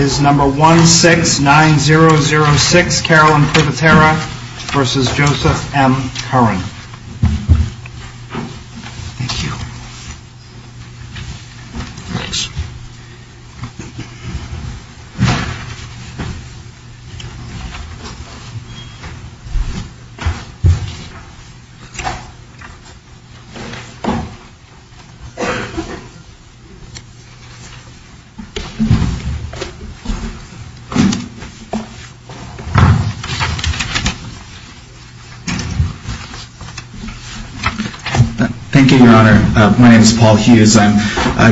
169006 Carolyn Privitera v. Joseph M. Curran Thank you, Your Honor. My name is Paul Hughes. I'm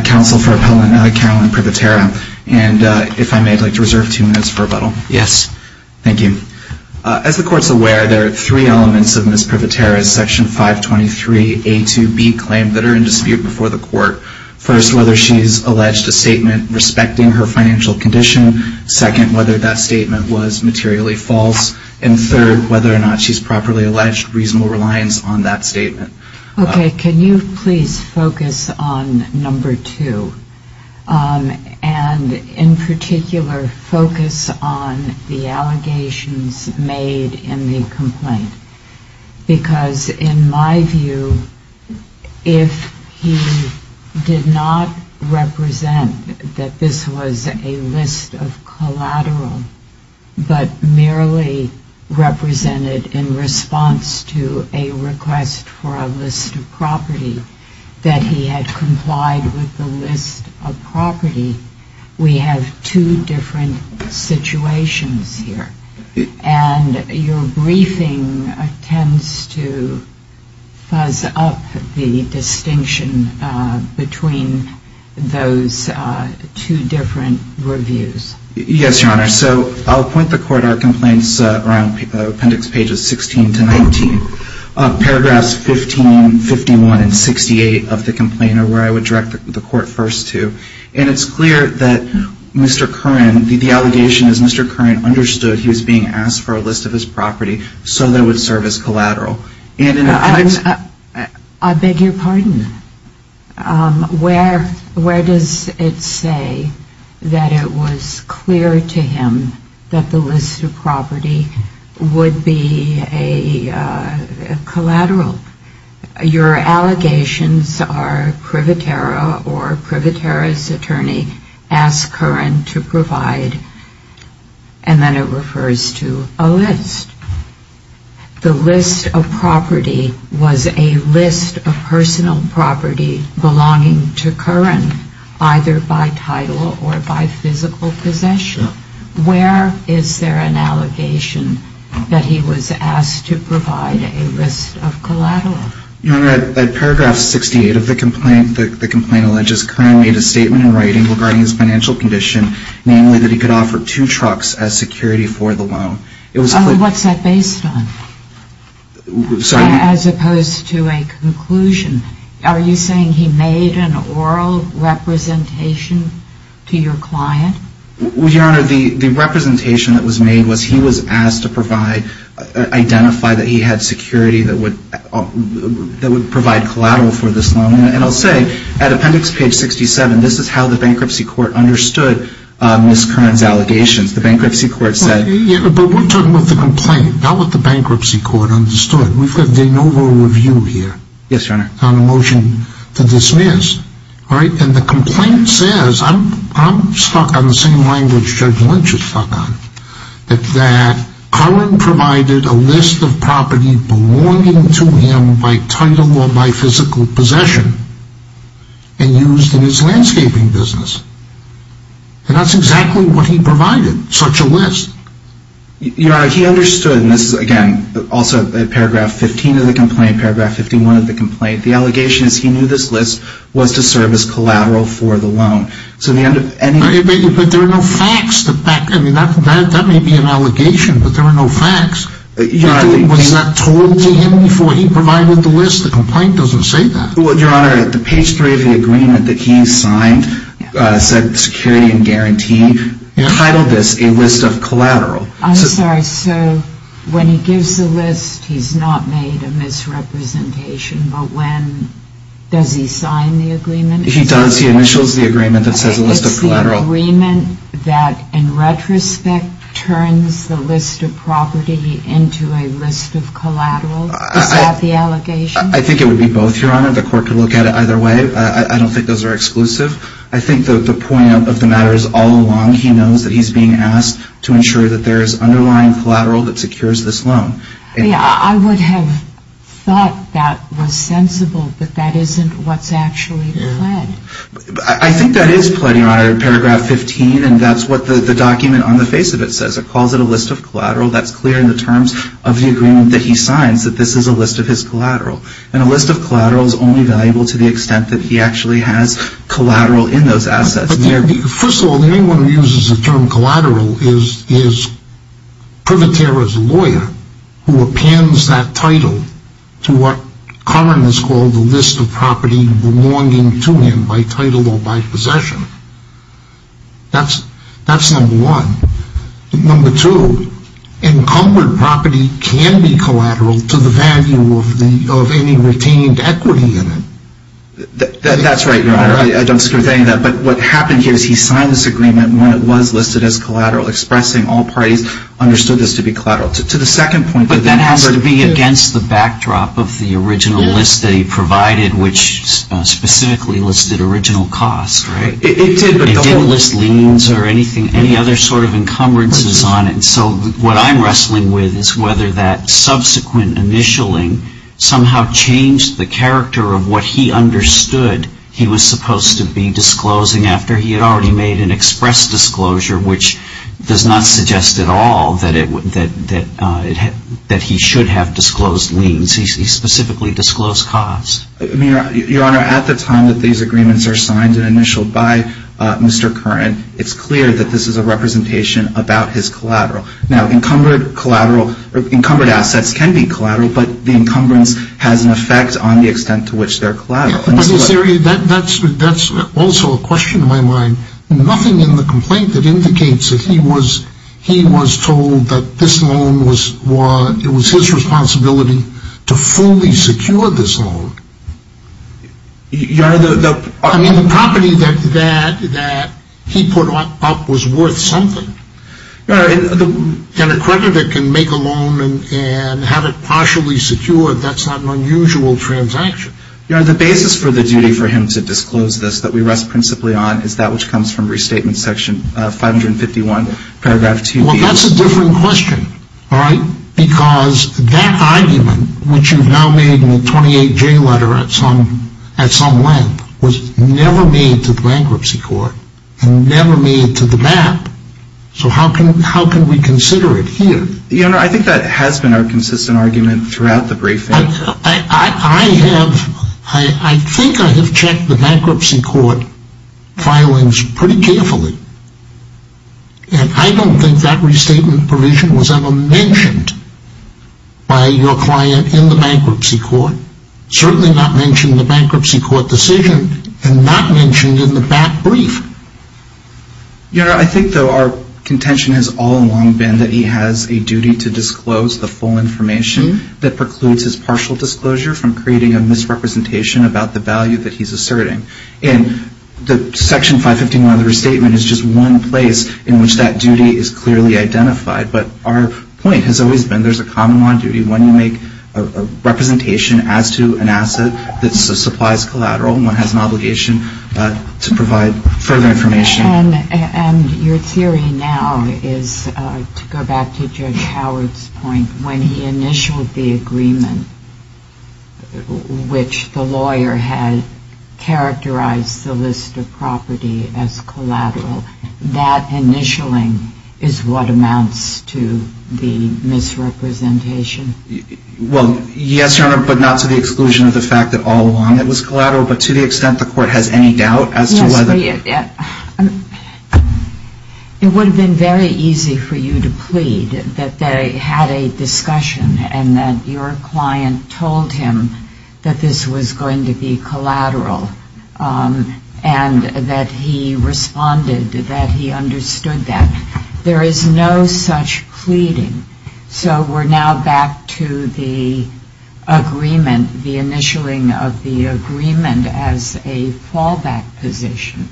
counsel for Appellant Carolyn Privitera. And if I may, I'd like to reserve two minutes for rebuttal. Yes. Thank you. As the Court's aware, there are three elements of Ms. Privitera's Section 523A2B claim that are in dispute before the Court. First, whether she's alleged a statement respecting her financial condition. Second, whether that statement was materially false. And third, whether or not she's properly alleged, reasonable reliance on that statement. Okay. Can you please focus on number two? And in particular, focus on the allegations made in the complaint? Because in my view, if he did not represent the financial condition that this was a list of collateral, but merely represented in response to a request for a list of property, that he had complied with the list of property, we have two different situations here. And your briefing tends to fuzz up the distinction between those two different reviews. Yes, Your Honor. So I'll point the Court our complaints around Appendix Pages 16 to 19. Paragraphs 15, 51, and 68 of the complaint are where I would direct the Court first to. And it's clear that Mr. Curran, the allegation is Mr. Curran understood he was being asked for a list of his property, so that it would serve as collateral. And in effect... I beg your pardon. Where does it say that it was clear to him that the list of property would be a collateral? Your allegations are Privatera or Privatera's attorney asked Curran to provide, and then it refers to, a list. The list of property was a collateral. Was a list of personal property belonging to Curran, either by title or by physical possession? Where is there an allegation that he was asked to provide a list of collateral? Your Honor, at Paragraph 68 of the complaint, the complaint alleges Curran made a statement in writing regarding his financial condition, namely that he could offer two trucks as security for the loan. What's that based on? As opposed to a conclusion? Are you saying he made an oral representation to your client? Your Honor, the representation that was made was he was asked to provide, identify that he had security that would provide collateral for this loan. And I'll say, at Appendix Page 67, this is how the Bankruptcy Court understood Ms. Curran's allegations. The Bankruptcy Court said... But we're talking about the complaint, not what the Bankruptcy Court understood. We've got de novo review here. Yes, Your Honor. On a motion to dismiss, all right? And the complaint says, I'm stuck on the same language Judge Lynch is stuck on, that Curran provided a list of property belonging to him by title or by physical possession, and used in his landscaping business. And that's exactly what he provided, such a list. Your Honor, he understood, and this is again, also at Paragraph 15 of the complaint, Paragraph 51 of the complaint, the allegation is he knew this list was to serve as collateral for the loan. So the end of any... But there are no facts to back... I mean, that may be an allegation, but there are no facts. Was that told to him before he provided the list? The complaint doesn't say that. Well, Your Honor, at the Page 3 of the agreement that he signed said security and guarantee. He titled this a list of collateral. I'm sorry. So when he gives the list, he's not made a misrepresentation, but when... Does he sign the agreement? He does. He initials the agreement that says a list of collateral. It's the agreement that, in retrospect, turns the list of property into a list of collateral. Is that the allegation? I think it would be both, Your Honor. The court could look at it either way. I don't think those are exclusive. I think the point of the matter is all along he knows that he's being asked to ensure that there is underlying collateral that secures this loan. Yeah, I would have thought that was sensible, but that isn't what's actually pled. I think that is pled, Your Honor, in Paragraph 15, and that's what the document on the face of it says. It calls it a list of collateral. That's clear in the terms of the agreement that he signs, that this is a list of his collateral. And a list of collateral is only collateral in those assets. First of all, anyone who uses the term collateral is Privatera's lawyer who appends that title to what Karman has called the list of property belonging to him by title or by possession. That's number one. Number two, encumbered property can be collateral to the value of any retained equity in it. That's right, Your Honor. I don't disagree with any of that. But what happened here is he signed this agreement when it was listed as collateral, expressing all parties understood this to be collateral. To the second point... But that has to be against the backdrop of the original list that he provided, which specifically listed original costs, right? It did, but the whole... It didn't list liens or anything, any other sort of encumbrances on it. So what I'm wrestling with is whether that subsequent initialing somehow changed the character of what he understood he was supposed to be disclosing after he had already made an express disclosure, which does not suggest at all that he should have disclosed liens. He specifically disclosed costs. Your Honor, at the time that these agreements are signed and initialed by Mr. Curran, it's clear that this is a representation about his collateral. Now, encumbered collateral or encumbered assets can be collateral, but the encumbrance has an effect on the extent to which they're collateral. In this area, that's also a question in my mind. Nothing in the complaint that indicates that he was told that this loan was his responsibility to fully secure this loan. Your Honor, the... I mean, the property that he put up was worth something. Your Honor, the... An accreditor can make a loan and have it partially secured. That's not an unusual transaction. Your Honor, the basis for the duty for him to disclose this that we rest principally on is that which comes from Restatement Section 551, paragraph 2B. Well, that's a different question, all right? Because that argument, which you've now made in the 28-J letter at some length, was never made to the Bankruptcy Court and never made to the map. So how can we consider it here? Your Honor, I think that has been our consistent argument throughout the briefing. I have... I think I have checked the Bankruptcy Court filings pretty carefully, and I don't think that restatement provision was ever mentioned by your client in the Bankruptcy Court. Certainly not mentioned in the Bankruptcy Court decision, and not mentioned in the back brief. Your Honor, I think, though, our contention has all along been that he has a duty to disclose the full information that precludes his partial disclosure from creating a misrepresentation about the value that he's asserting. And the Section 551 of the Restatement is just one place in which that duty is clearly identified. But our point has always been there's a common law on duty. When you make a representation as to an asset that supplies collateral, one has an obligation to provide further information. And your theory now is, to go back to Judge Howard's point, when he initialed the agreement which the lawyer had characterized the list of property as collateral, that initialing is what amounts to the misrepresentation? Well, yes, Your Honor, but not to the exclusion of the fact that all along it was collateral. But to the extent the Court has any doubt as to whether... Yes, we... It would have been very easy for you to plead that they had a discussion and that your client told him that this was going to be collateral and that he responded, that he understood that. There is no such pleading. So we're now back to the agreement, the initialing of the agreement as a fallback position.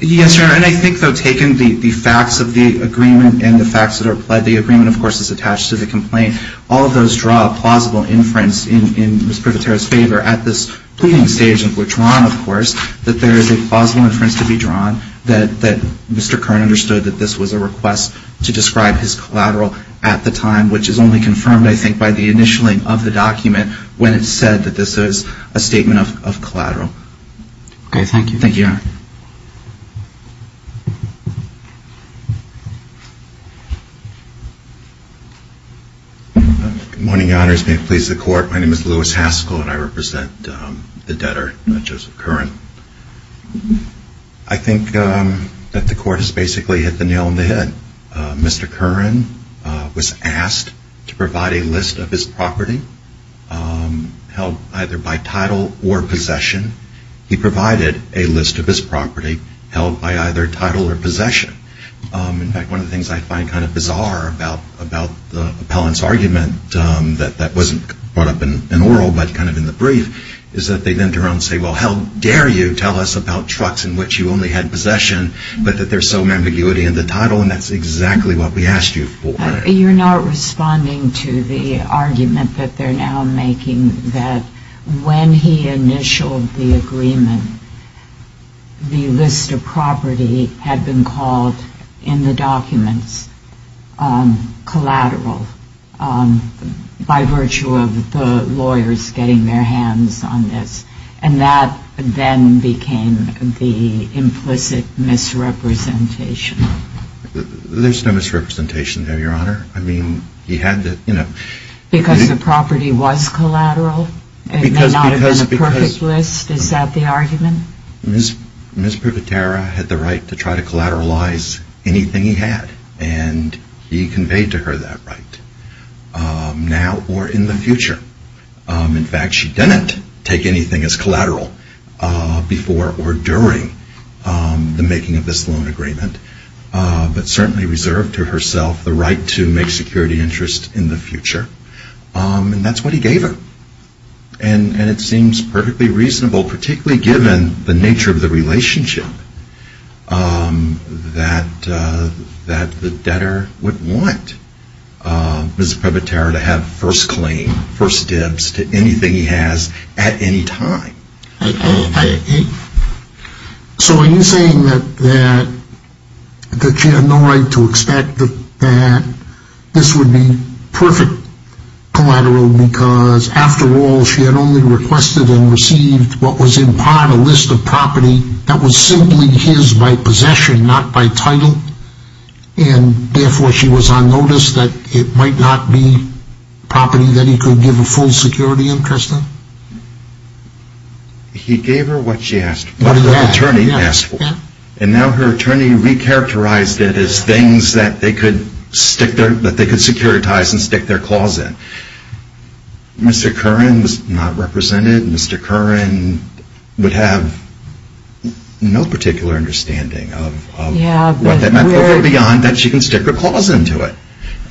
Yes, Your Honor, and I think, though, taken the facts of the agreement and the facts that the agreement, of course, is attached to the complaint, all of those draw a plausible inference in Ms. Privatero's favor at this pleading stage in which we're drawn, of course, that there is a plausible inference to be drawn that Mr. Kern understood that this was a request to describe his collateral at the time, which is only confirmed, I think, by the initialing of the document when it's said that this is a statement of collateral. Okay, thank you. Thank you, Your Honor. Good morning, Your Honors. May it please the Court, my name is Louis Haskell and I represent the debtor, Joseph Curran. I think that the Court has basically hit the nail on the head. Mr. Curran was asked to provide a list of his property held either by title or possession. He provided a list of his property held by either title or possession. In fact, one of the things I find kind of bizarre about the appellant's argument that wasn't brought up in oral but kind of in the brief is that they then turn around and say, well, how dare you tell us about trucks in which you only had possession but that there's some ambiguity in the title, and that's exactly what we asked you for. You're not responding to the argument that they're now making that when he initialed the agreement, the list of property had been called in the documents collateral by virtue of the lawyers getting their hands on this, and that then became the implicit misrepresentation. There's no misrepresentation there, Your Honor. I mean, he had to, you know. Because the property was collateral? It may not have been a perfect list? Is that the argument? Ms. Privatera had the right to try to collateralize anything he had, and he conveyed to her that right now or in the future. In fact, she didn't take anything as collateral before or during the making of this loan agreement but certainly reserved to herself the right to make security interest in the future, and that's what he gave her. And it seems perfectly reasonable, particularly given the nature of the relationship, that the debtor would want Ms. Privatera to have first claim, first dibs to anything he has at any time. So are you saying that she had no right to expect that this would be perfect collateral because after all she had only requested and received what was in part a list of property that was simply his by possession, not by title, and therefore she was on notice that it might not be property that he could give a full security interest in? He gave her what she asked for, what the attorney asked for. And now her attorney recharacterized it as things that they could securitize and stick their claws in. Mr. Curran was not represented. Mr. Curran would have no particular understanding of what that meant, but beyond that she can stick her claws into it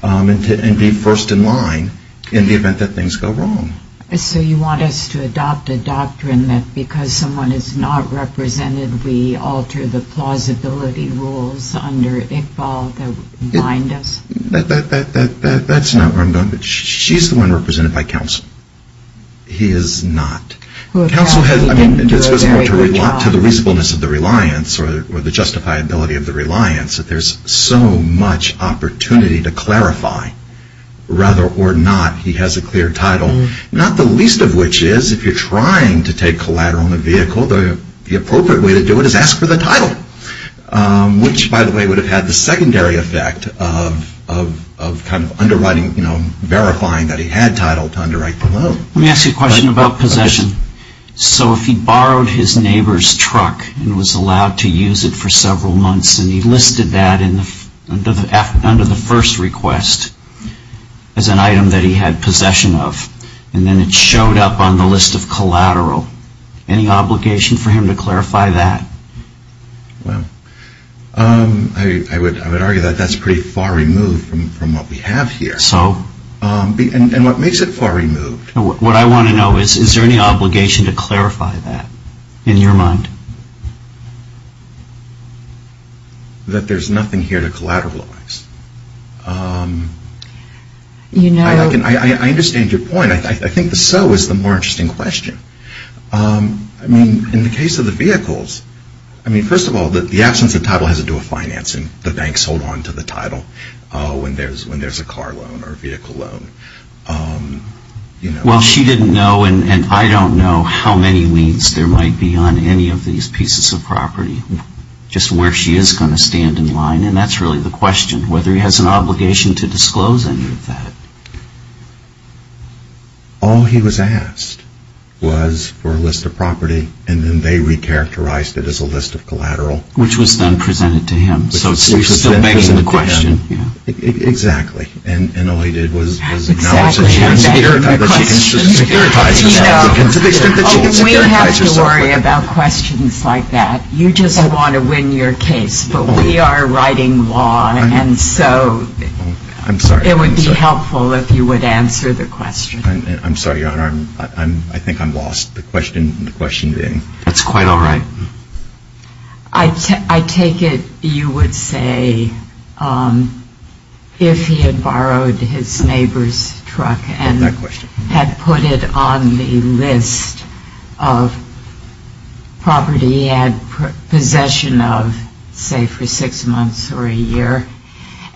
and be first in line in the event that things go wrong. So you want us to adopt a doctrine that because someone is not represented we alter the plausibility rules under Iqbal that bind us? That's not where I'm going. She's the one represented by counsel. He is not. Counsel has to respond to the reasonableness of the reliance or the justifiability of the reliance that there's so much opportunity to clarify whether or not he has a clear title, not the least of which is if you're trying to take collateral on a vehicle, the appropriate way to do it is ask for the title, which by the way would have had the secondary effect of kind of underwriting, verifying that he had title to underwrite the loan. Let me ask you a question about possession. So if he borrowed his neighbor's truck and was allowed to use it for several months and he listed that under the first request as an item that he had possession of and then it showed up on the list of collateral, any obligation for him to clarify that? Well, I would argue that that's pretty far removed from what we have here. So? And what makes it far removed? What I want to know is is there any obligation to clarify that in your mind? That there's nothing here to collateralize. I understand your point. I think the so is the more interesting question. I mean, in the case of the vehicles, I mean, first of all, the absence of title has to do with financing. The banks hold on to the title when there's a car loan or a vehicle loan. Well, she didn't know and I don't know how many weeks there might be on any of these pieces of property, just where she is going to stand in line, and that's really the question, whether he has an obligation to disclose any of that. All he was asked was for a list of property and then they recharacterized it as a list of collateral. Which was then presented to him. Which was presented to him. So it still begs the question. Exactly. And all he did was acknowledge that she had securitized herself. We don't have to worry about questions like that. You just want to win your case. But we are writing law and so it would be helpful if you would answer the question. I'm sorry, Your Honor. I think I'm lost. The question being. It's quite all right. I take it you would say if he had borrowed his neighbor's truck and had put it on the list of property he had possession of, say for six months or a year,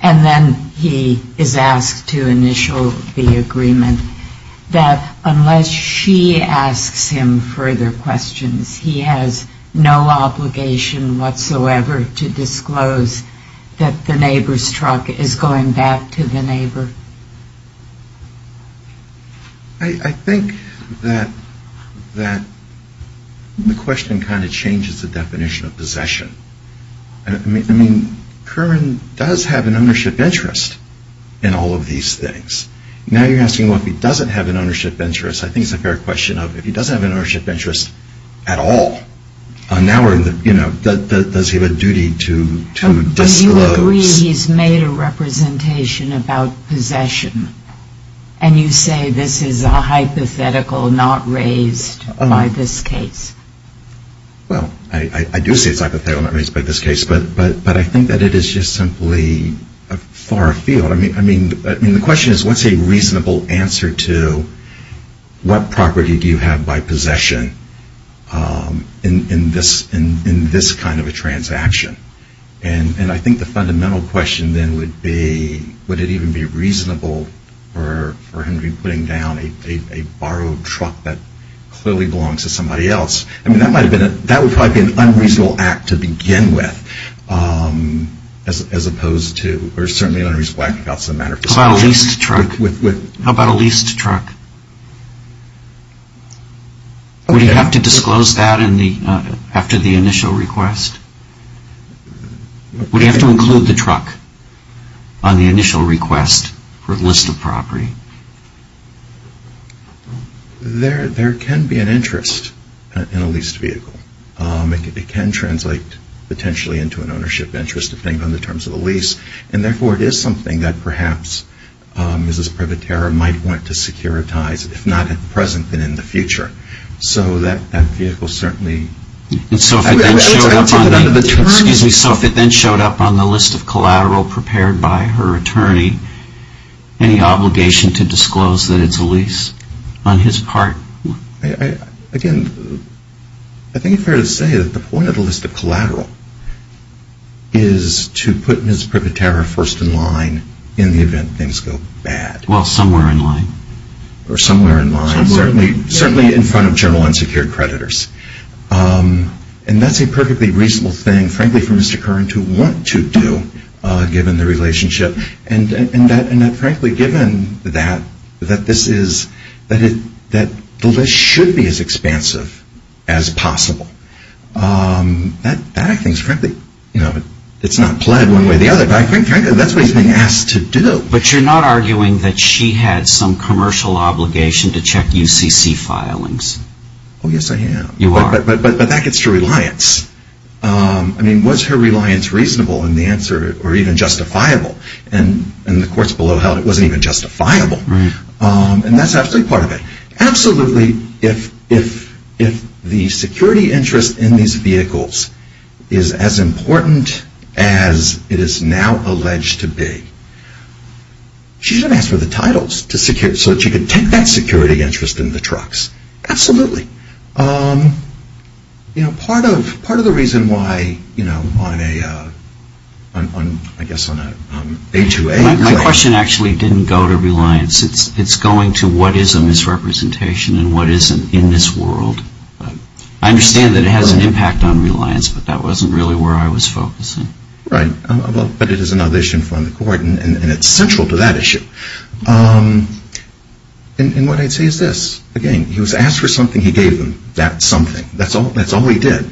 and then he is asked to initial the agreement, that unless she asks him further questions, he has no obligation whatsoever to disclose that the neighbor's truck is going back to the neighbor? I think that the question kind of changes the definition of possession. I mean, Kerman does have an ownership interest in all of these things. Now you're asking if he doesn't have an ownership interest. I think it's a fair question of if he doesn't have an ownership interest at all, does he have a duty to disclose? Do you agree he's made a representation about possession? And you say this is a hypothetical not raised by this case? Well, I do say it's a hypothetical not raised by this case. But I think that it is just simply a far field. I mean, the question is what's a reasonable answer to what property do you have by possession in this kind of a transaction? And I think the fundamental question then would be would it even be reasonable for him to be putting down a borrowed truck that clearly belongs to somebody else? I mean, that would probably be an unreasonable act to begin with as opposed to or certainly an unreasonable act without some matter of discussion. How about a leased truck? Would he have to disclose that after the initial request? Would he have to include the truck on the initial request for a list of property? There can be an interest in a leased vehicle. It can translate potentially into an ownership interest, depending on the terms of the lease. And therefore, it is something that perhaps Mrs. Prevatera might want to securitize, if not at the present, then in the future. So that vehicle certainly... So if it then showed up on the list of collateral prepared by her attorney, any obligation to disclose that it's a lease on his part? Again, I think it's fair to say that the point of the list of collateral is to put Mrs. Prevatera first in line in the event things go bad. Well, somewhere in line. Or somewhere in line, certainly in front of general unsecured creditors. And that's a perfectly reasonable thing, frankly, for Mr. Curran to want to do, given the relationship. And that, frankly, given that, that this is... that the list should be as expansive as possible. That, I think, is frankly... It's not pled one way or the other, but I think, frankly, that's what he's being asked to do. But you're not arguing that she had some commercial obligation to check UCC filings? Oh, yes, I am. You are. But that gets to reliance. I mean, was her reliance reasonable in the answer, or even justifiable? In the courts below held, it wasn't even justifiable. Right. And that's absolutely part of it. Absolutely, if the security interest in these vehicles is as important as it is now alleged to be, she should have asked for the titles to secure... so that she could take that security interest in the trucks. Absolutely. Part of the reason why, you know, on a... I guess on a A2A... My question actually didn't go to reliance. It's going to what is a misrepresentation and what isn't in this world. I understand that it has an impact on reliance, but that wasn't really where I was focusing. Right. But it is another issue in front of the court, and it's central to that issue. And what I'd say is this. Again, he was asked for something, he gave them that something. That's all he did.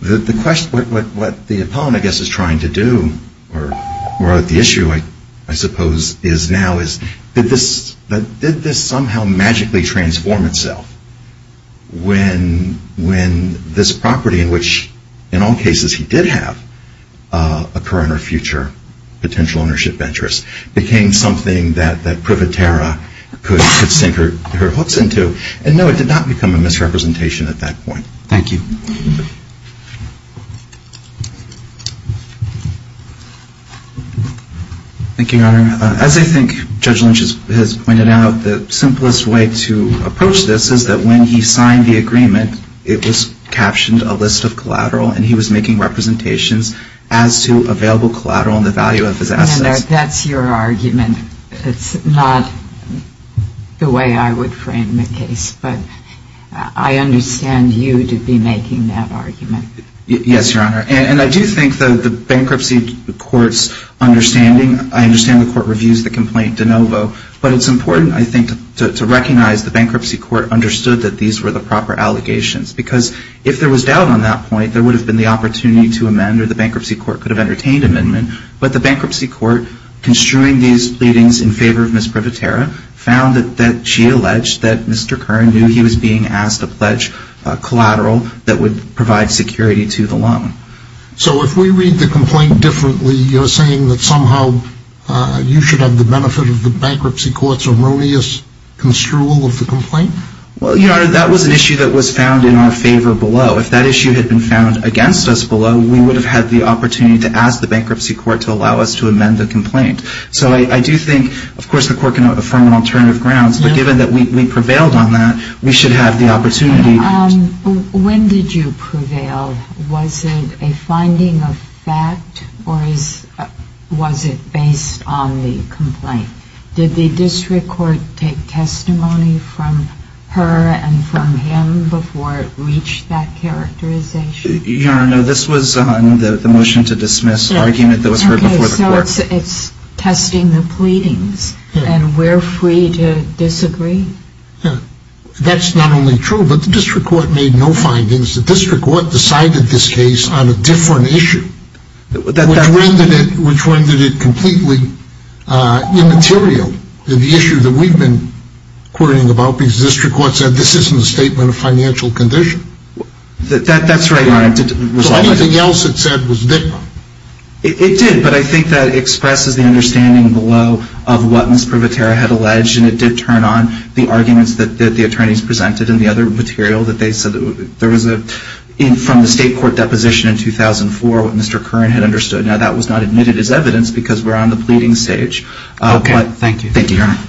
The question, what the opponent, I guess, is trying to do, or the issue, I suppose, is now, is did this somehow magically transform itself when this property, which in all cases he did have a current or future potential ownership interest, became something that Privetera could sink her hooks into? And no, it did not become a misrepresentation at that point. Thank you. Thank you, Your Honor. As I think Judge Lynch has pointed out, it was captioned a list of collateral, and he was making representations as to available collateral and the value of his assets. And that's your argument. It's not the way I would frame the case. But I understand you to be making that argument. Yes, Your Honor. And I do think the bankruptcy court's understanding, I understand the court reviews the complaint de novo, but it's important, I think, to recognize the bankruptcy court understood that these were the proper allegations. Because if there was doubt on that point, there would have been the opportunity to amend, or the bankruptcy court could have entertained amendment. But the bankruptcy court, construing these pleadings in favor of Ms. Privetera, found that she alleged that Mr. Kern knew he was being asked to pledge collateral that would provide security to the loan. So if we read the complaint differently, you're saying that somehow you should have the benefit of the bankruptcy court's erroneous construal of the complaint? Well, Your Honor, that was an issue that was found in our favor below. If that issue had been found against us below, we would have had the opportunity to ask the bankruptcy court to allow us to amend the complaint. So I do think, of course, the court can affirm on alternative grounds, but given that we prevailed on that, we should have the opportunity. When did you prevail? Was it a finding of fact, or was it based on the complaint? Did the district court take testimony from her and from him before it reached that characterization? Your Honor, no, this was the motion to dismiss argument that was heard before the court. Okay, so it's testing the pleadings, and we're free to disagree? That's not only true, but the district court made no findings. The district court decided this case on a different issue, which rendered it completely immaterial, the issue that we've been quarreling about, because the district court said, this isn't a statement of financial condition. That's right, Your Honor. So anything else it said was different? It did, but I think that expresses the understanding below of what Ms. Privatera had alleged, and it did turn on the arguments that the attorneys presented in the other material, from the state court deposition in 2004, what Mr. Curran had understood. Now, that was not admitted as evidence, because we're on the pleading stage. Okay, thank you. Thank you, Your Honor.